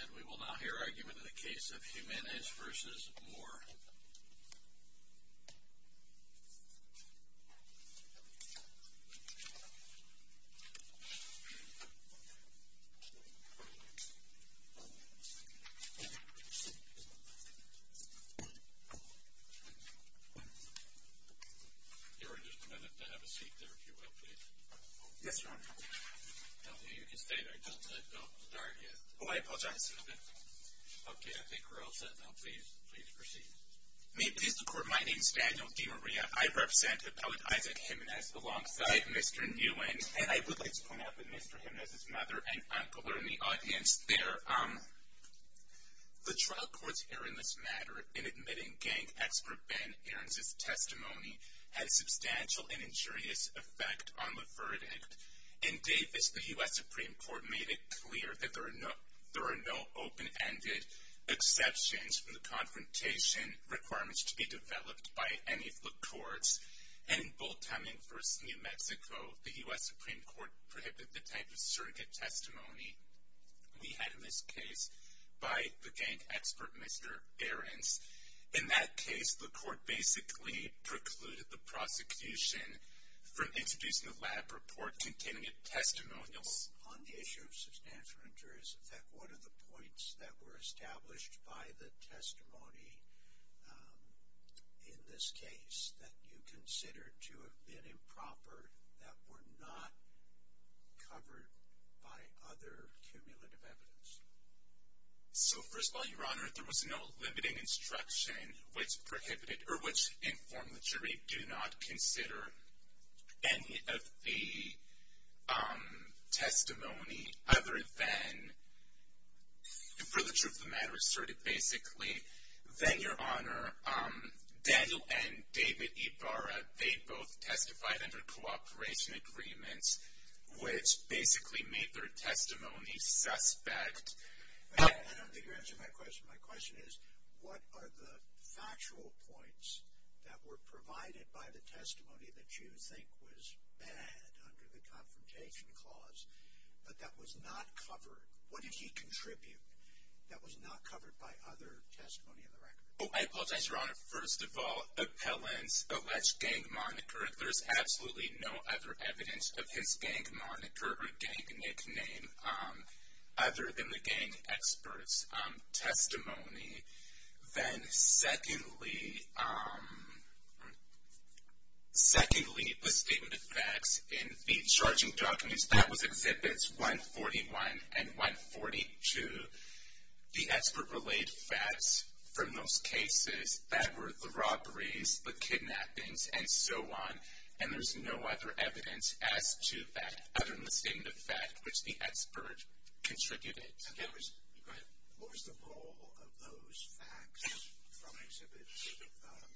And we will now hear argument in the case of Jimenez v. Moore. Your Honor, just a minute to have a seat there, if you will, please. Yes, Your Honor. No, you can stay there. Don't start yet. Oh, I apologize. Okay, I think we're all set now. Please proceed. May it please the Court, my name is Daniel DiMaria. I represent Appellant Isaac Jimenez alongside Mr. Nguyen. And I would like to point out that Mr. Jimenez's mother and uncle are in the audience there. The trial court's error in this matter in admitting gang expert Ben Aarons' testimony had a substantial and injurious effect on the verdict. In Davis, the U.S. Supreme Court made it clear that there are no open-ended exceptions from the confrontation requirements to be developed by any of the courts. And in Bolton v. New Mexico, the U.S. Supreme Court prohibited the type of surrogate testimony we had in this case by the gang expert, Mr. Aarons. In that case, the court basically precluded the prosecution from introducing a lab report containing testimonials. On the issue of substantial and injurious effect, what are the points that were established by the testimony in this case that you consider to have been improper that were not covered by other cumulative evidence? So, first of all, Your Honor, there was no limiting instruction which prohibited or which informed the jury do not consider any of the testimony other than, for the truth of the matter asserted, basically. Then, Your Honor, Daniel and David Ibarra, they both testified under cooperation agreements which basically made their testimony suspect. I don't think you're answering my question. My question is, what are the factual points that were provided by the testimony that you think was bad under the confrontation clause but that was not covered? What did he contribute that was not covered by other testimony in the record? Oh, I apologize, Your Honor. First of all, appellant's alleged gang moniker. There's absolutely no other evidence of his gang moniker or gang nickname other than the gang expert's testimony. Then, secondly, the statement of facts in the charging documents, that was Exhibits 141 and 142. The expert relayed facts from those cases that were the robberies, the kidnappings, and so on, and there's no other evidence as to that other than the statement of facts which the expert contributed. What was the role of those facts from Exhibits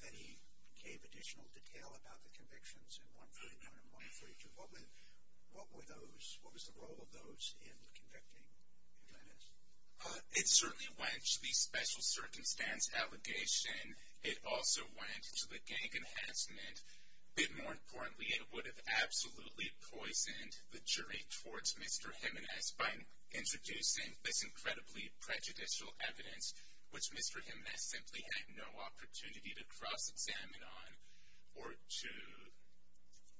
that he gave additional detail about the convictions in 141 and 142? What were those? What was the role of those in convicting Jim Jimenez? It certainly went to the special circumstance allegation. It also went to the gang enhancement. But more importantly, it would have absolutely poisoned the jury towards Mr. Jimenez by introducing this incredibly prejudicial evidence, which Mr. Jimenez simply had no opportunity to cross-examine on or to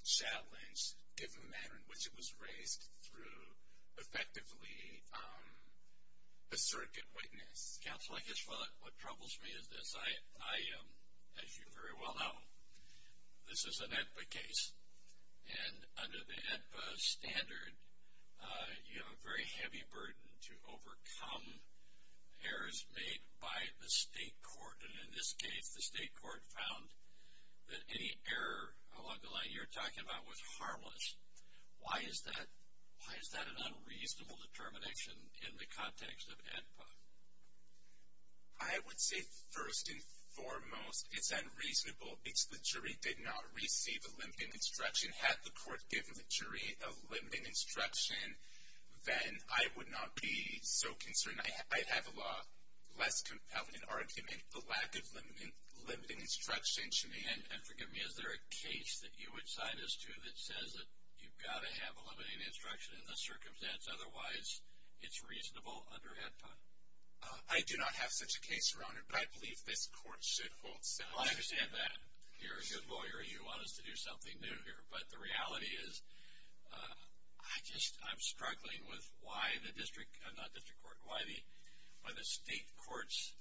challenge, given the manner in which it was raised, through effectively a circuit witness. Counsel, I guess what troubles me is this. I, as you very well know, this is an AEDPA case, and under the AEDPA standard, you have a very heavy burden to overcome errors made by the state court. And in this case, the state court found that any error along the line you're talking about was harmless. Why is that an unreasonable determination in the context of AEDPA? I would say, first and foremost, it's unreasonable. It's the jury did not receive a limiting instruction. Had the court given the jury a limiting instruction, then I would not be so concerned. I'd have a lot less compelling argument, the lack of limiting instruction, to me. And forgive me, is there a case that you would cite us to that says that you've got to have a limiting instruction in this circumstance, otherwise it's reasonable under AEDPA? I do not have such a case, Your Honor, but I believe this court should hold similar. I understand that. You're a good lawyer. You want us to do something new here. But the reality is, I just, I'm struggling with why the district, not district court, why the state court's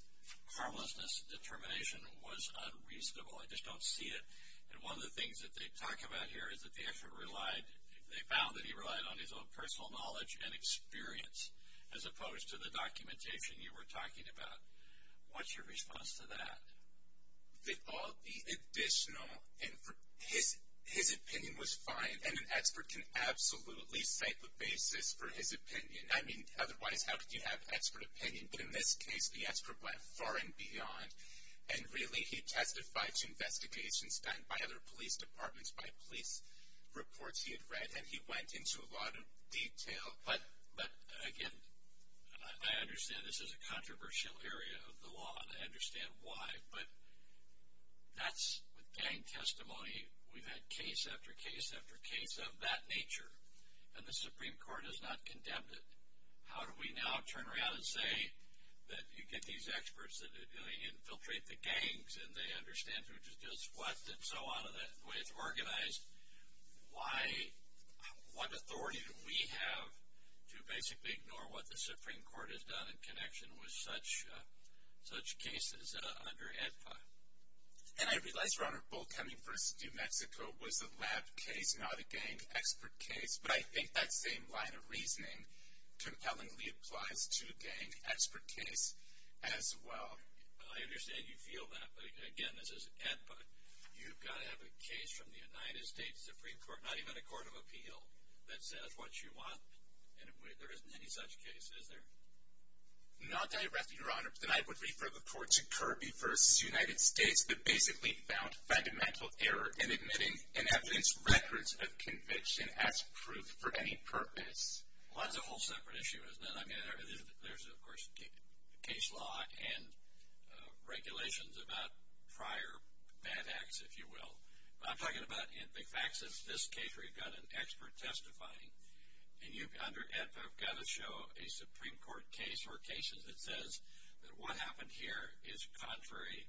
harmlessness determination was unreasonable. I just don't see it. And one of the things that they talk about here is that they actually relied, they found that he relied on his own personal knowledge and experience, as opposed to the documentation you were talking about. What's your response to that? All the additional, his opinion was fine, and an expert can absolutely cite the basis for his opinion. I mean, otherwise how could you have expert opinion? But in this case, the expert went far and beyond, and really he testified to investigations done by other police departments, by police reports he had read, and he went into a lot of detail. But, again, I understand this is a controversial area of the law, and I understand why. But that's, with gang testimony, we've had case after case after case of that nature, and the Supreme Court has not condemned it. How do we now turn around and say that you get these experts that infiltrate the gangs, and they understand who does what and so on, and the way it's organized? Why, what authority do we have to basically ignore what the Supreme Court has done in connection with such cases under AEDPA? And I realize, Your Honor, Bull Cummings v. New Mexico was a lab case, not a gang expert case, but I think that same line of reasoning compellingly applies to a gang expert case as well. I understand you feel that, but, again, this is AEDPA. You've got to have a case from the United States Supreme Court, not even a court of appeal, that says what you want, and there isn't any such case, is there? Not directly, Your Honor, but I would refer the court to Kirby v. United States that basically found fundamental error in admitting and evidence records of conviction as proof for any purpose. Well, that's a whole separate issue, isn't it? Well, I mean, there's, of course, case law and regulations about prior bad acts, if you will. But I'm talking about big facts. It's this case where you've got an expert testifying, and under AEDPA you've got to show a Supreme Court case or cases that says that what happened here is contrary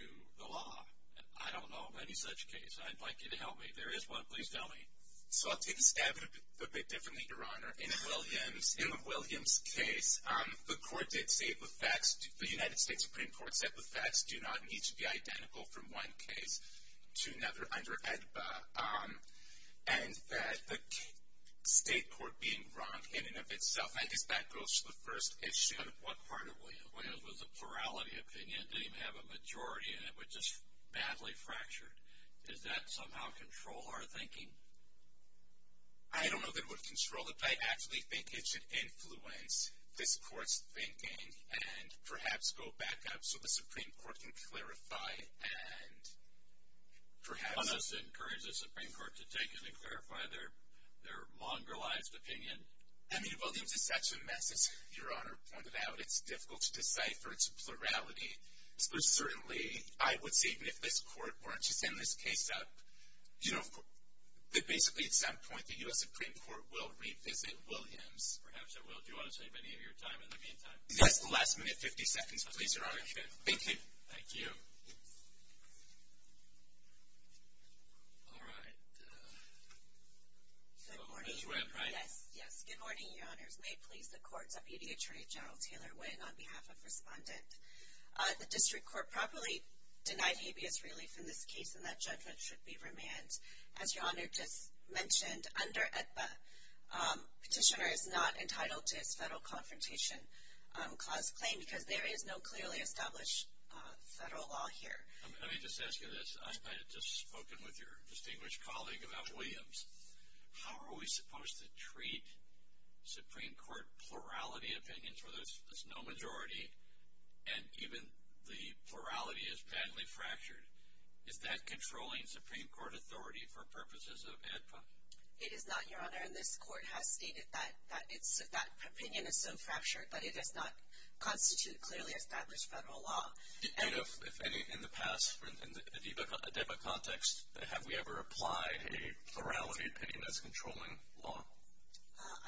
to the law. I don't know of any such case. I'd like you to help me. If there is one, please tell me. So I'll take a stab at it a bit differently, Your Honor. In the Williams case, the court did state the facts. The United States Supreme Court said the facts do not need to be identical from one case to another under AEDPA, and that the state court being wrong in and of itself, I guess that goes to the first issue. What part of Williams? Williams was a plurality opinion. It didn't even have a majority in it. It was just badly fractured. Does that somehow control our thinking? I don't know if it would control it. I actually think it should influence this court's thinking and perhaps go back up so the Supreme Court can clarify and perhaps encourage the Supreme Court to take it and clarify their mongrelized opinion. I mean, Williams is such a mess, as Your Honor pointed out. It's difficult to decipher its plurality. Certainly, I would say even if this court weren't to send this case up, that basically at some point the U.S. Supreme Court will revisit Williams. Perhaps it will. Do you want to take any of your time in the meantime? Yes, the last minute, 50 seconds, please, Your Honor. Okay. Thank you. Thank you. All right. Good morning. Ms. Webb, right? Yes, yes. Good morning, Your Honors. May it please the courts, Deputy Attorney General Taylor Wynn on behalf of Respondent. The district court properly denied habeas relief in this case, and that judgment should be remanded. As Your Honor just mentioned, under AEDPA, petitioner is not entitled to his federal confrontation clause claim because there is no clearly established federal law here. Let me just ask you this. I've kind of just spoken with your distinguished colleague about Williams. How are we supposed to treat Supreme Court plurality opinions where there's no majority and even the plurality is badly fractured? Is that controlling Supreme Court authority for purposes of AEDPA? It is not, Your Honor, and this court has stated that that opinion is so fractured that it does not constitute clearly established federal law. And if any, in the past, in the AEDPA context, have we ever applied a plurality opinion as controlling law?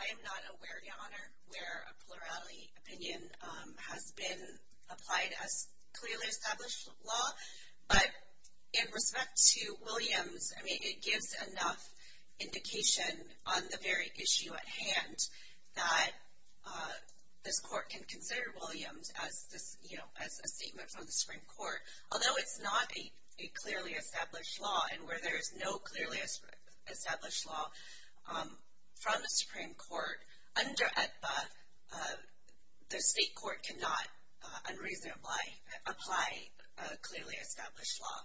I am not aware, Your Honor, where a plurality opinion has been applied as clearly established law. But in respect to Williams, I mean, it gives enough indication on the very issue at hand that this court can consider Williams as a statement from the Supreme Court, although it's not a clearly established law. And where there is no clearly established law from the Supreme Court, under AEDPA, the state court cannot unreasonably apply clearly established law.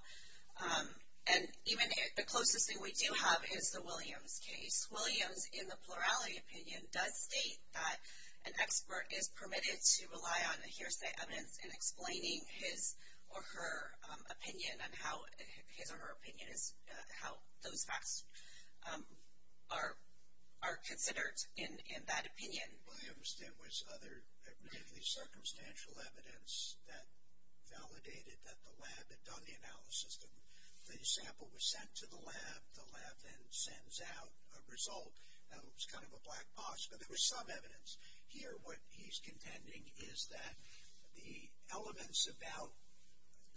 And even the closest thing we do have is the Williams case. Williams, in the plurality opinion, does state that an expert is permitted to rely on hearsay evidence in explaining his or her opinion and how his or her opinion is, how those facts are considered in that opinion. Williams, there was other, particularly circumstantial evidence that validated that the lab had done the analysis. The sample was sent to the lab. The lab then sends out a result. Now, it was kind of a black box, but there was some evidence. Here, what he's contending is that the elements about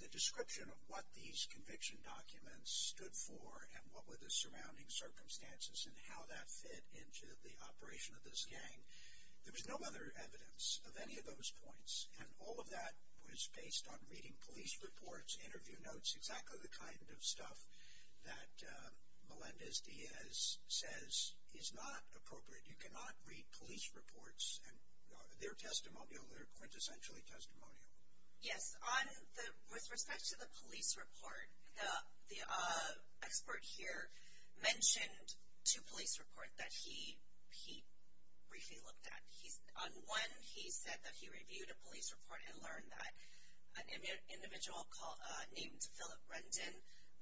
the description of what these conviction documents stood for and what were the surrounding circumstances and how that fit into the operation of this gang, there was no other evidence of any of those points. And all of that was based on reading police reports, interview notes, exactly the kind of stuff that Melendez-Diaz says is not appropriate. You cannot read police reports. They're testimonial. They're quintessentially testimonial. Yes. With respect to the police report, the expert here mentioned two police reports that he briefly looked at. On one, he said that he reviewed a police report and learned that an individual named Philip Rendon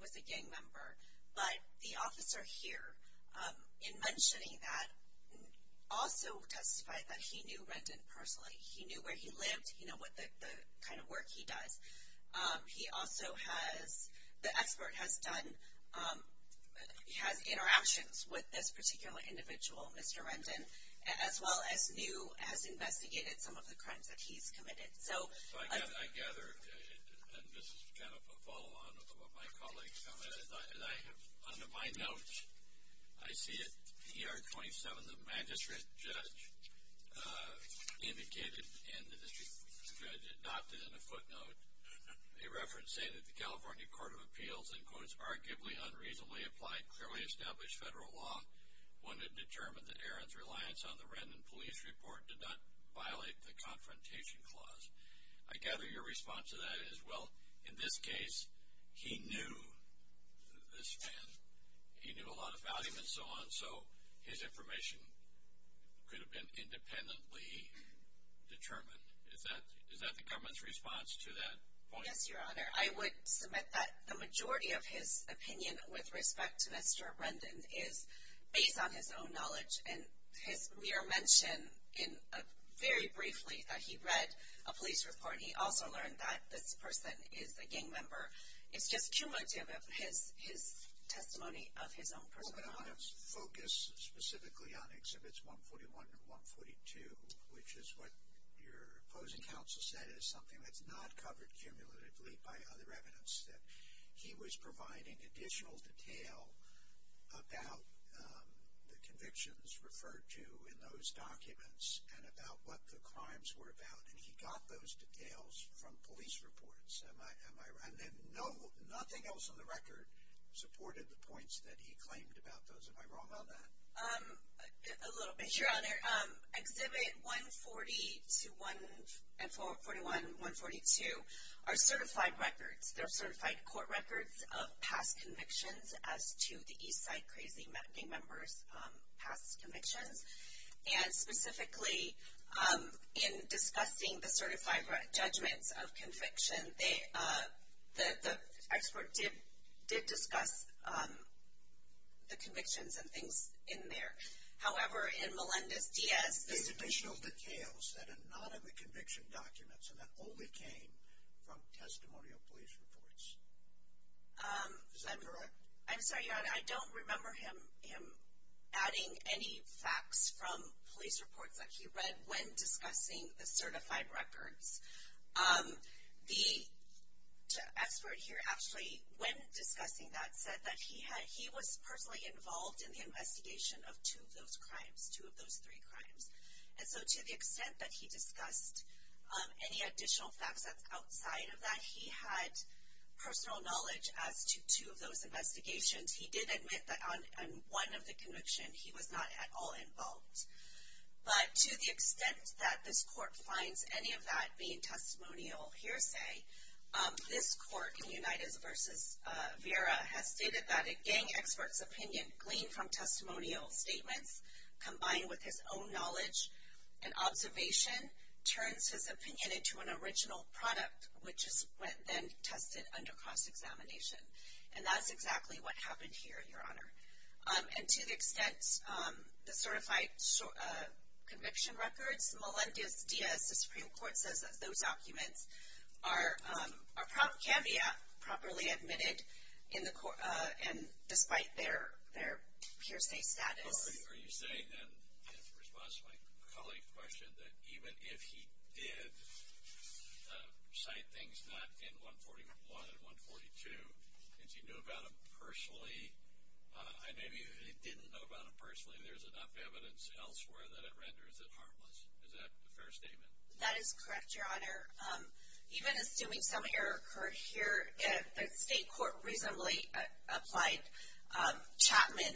was a gang member. But the officer here, in mentioning that, also testified that he knew Rendon personally. He knew where he lived. He knew what kind of work he does. He also has, the expert has done, has interactions with this particular individual, Mr. Rendon, as well as knew, as investigated, some of the crimes that he's committed. So. I gather, and this is kind of a follow-on of my colleague's comment, and I have under my notes, I see it, ER 27, the magistrate judge indicated in the district judge, it dotted in a footnote a reference saying that the California Court of Appeals, in quotes, arguably unreasonably applied, clearly established federal law, when it determined that Aaron's reliance on the Rendon police report did not violate the confrontation clause. I gather your response to that is, well, in this case, he knew this man. He knew a lot of value and so on, so his information could have been independently determined. Is that the government's response to that point? Yes, Your Honor. I would submit that. The majority of his opinion, with respect to Mr. Rendon, is based on his own knowledge, and his mere mention, very briefly, that he read a police report, and he also learned that this person is a gang member, is just cumulative of his testimony of his own personal knowledge. Well, but I want to focus specifically on Exhibits 141 and 142, which is what your opposing counsel said is something that's not covered cumulatively by other evidence that he was providing additional detail about the convictions referred to in those documents and about what the crimes were about, and he got those details from police reports. Am I right? And nothing else on the record supported the points that he claimed about those. Am I wrong on that? A little bit, Your Honor. Exhibit 140 and 141 and 142 are certified records. They're certified court records of past convictions as to the Eastside Crazy Gang members' past convictions, and specifically in discussing the certified judgments of conviction, the expert did discuss the convictions and things in there. However, in Melendez-Diaz's submission. Additional details that are not in the conviction documents and that only came from testimonial police reports. Is that correct? I'm sorry, Your Honor. I don't remember him adding any facts from police reports that he read when discussing the certified records. The expert here actually, when discussing that, said that he was personally involved in the investigation of two of those crimes, two of those three crimes. And so to the extent that he discussed any additional facts that's outside of that, he had personal knowledge as to two of those investigations. He did admit that on one of the convictions he was not at all involved. But to the extent that this court finds any of that being testimonial hearsay, this court in Unitas v. Vera has stated that a gang expert's opinion gleaned from testimonial statements, combined with his own knowledge and observation, turns his opinion into an original product which is then tested under cross-examination. And that's exactly what happened here, Your Honor. And to the extent the certified conviction records, Melendez-Diaz, the Supreme Court, says that those documents are probably properly admitted in the court and despite their hearsay status. Are you saying then, in response to my colleague's question, that even if he did cite things not in 141 and 142, and he knew about them personally, and maybe he didn't know about them personally, there's enough evidence elsewhere that it renders it harmless. Is that a fair statement? That is correct, Your Honor. Even assuming some error occurred here, the state court reasonably applied Chapman.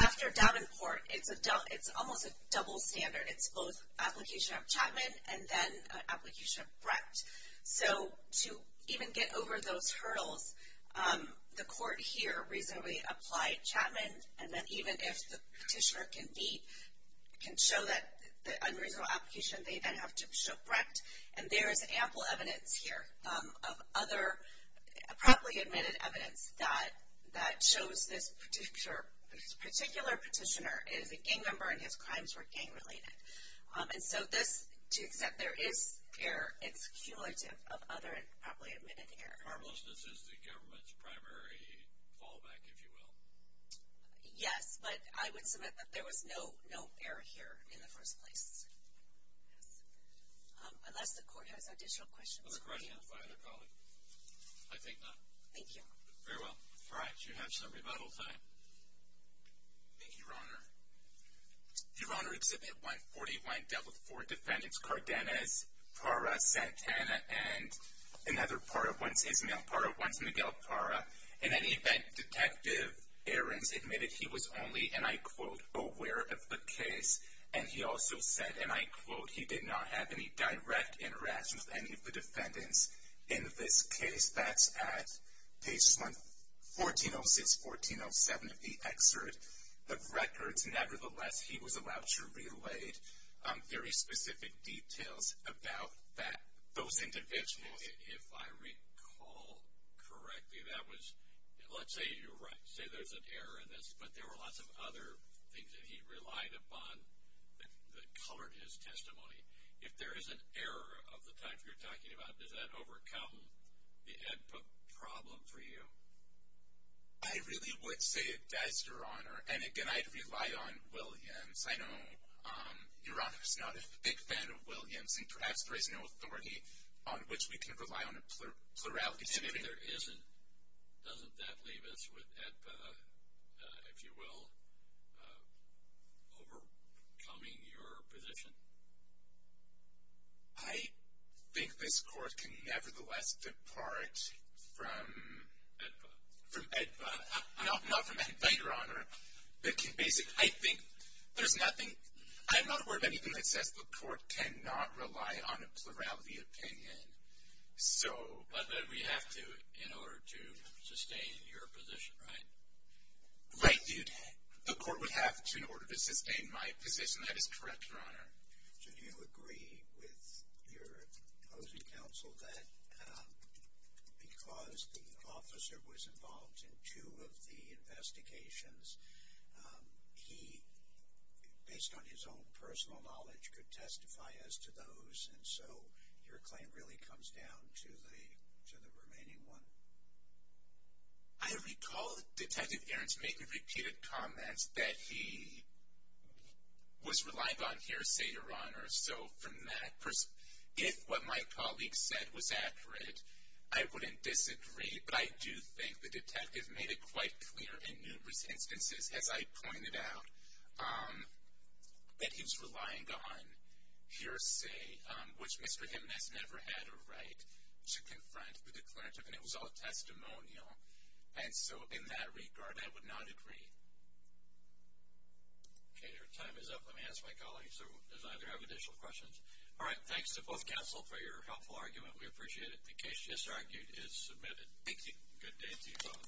After Davenport, it's almost a double standard. It's both application of Chapman and then application of Brecht. So to even get over those hurdles, the court here reasonably applied Chapman. And then even if the petitioner can show that unreasonable application, they then have to show Brecht. And there is ample evidence here of other properly admitted evidence that shows this particular petitioner is a gang member and his crimes were gang related. And so this, to the extent there is error, it's cumulative of other improperly admitted error. Harmlessness is the government's primary fallback, if you will. Yes, but I would submit that there was no error here in the first place. Unless the court has additional questions. Other questions by other colleagues? I take none. Thank you. Very well. All right. You have some rebuttal time. Thank you, Your Honor. Your Honor, Exhibit 141 dealt with four defendants, Cardenas, Parra, Santana, and another Parra. One's Ismael Parra, one's Miguel Parra. In any event, Detective Ahrens admitted he was only, and I quote, aware of the case. And he also said, and I quote, he did not have any direct interaction with any of the defendants in this case. That's at page 1406-1407 of the excerpt of records. Nevertheless, he was allowed to relay very specific details about those individuals. If I recall correctly, that was, let's say you're right, say there's an error in this, but there were lots of other things that he relied upon that colored his testimony. If there is an error of the type you're talking about, does that overcome the ed problem for you? I really would say it does, Your Honor. And, again, I'd rely on Williams. I know Your Honor's not a big fan of Williams, and perhaps there is no authority on which we can rely on a plurality statement. And if there isn't, doesn't that leave us with EDPA, if you will, overcoming your position? I think this Court can nevertheless depart from EDPA. From EDPA. Not from EDPA, Your Honor. Basically, I think there's nothing. I'm not aware of anything that says the Court cannot rely on a plurality opinion. But we have to in order to sustain your position, right? Right, dude. The Court would have to in order to sustain my position. That is correct, Your Honor. So do you agree with your opposing counsel that because the officer was involved in two of the investigations, he, based on his own personal knowledge, could testify as to those, and so your claim really comes down to the remaining one? I recall Detective Aarons making repeated comments that he was relying on hearsay, Your Honor. So from that perspective, if what my colleague said was accurate, I wouldn't disagree. But I do think the detective made it quite clear in numerous instances, as I pointed out, that he was relying on hearsay, which Mr. Jimenez never had a right to confront the declarative. And it was all testimonial. And so in that regard, I would not agree. Okay, your time is up. Let me ask my colleague. So does either have additional questions? All right, thanks to both counsel for your helpful argument. We appreciate it. The case just argued is submitted. Thank you. Good day to you both.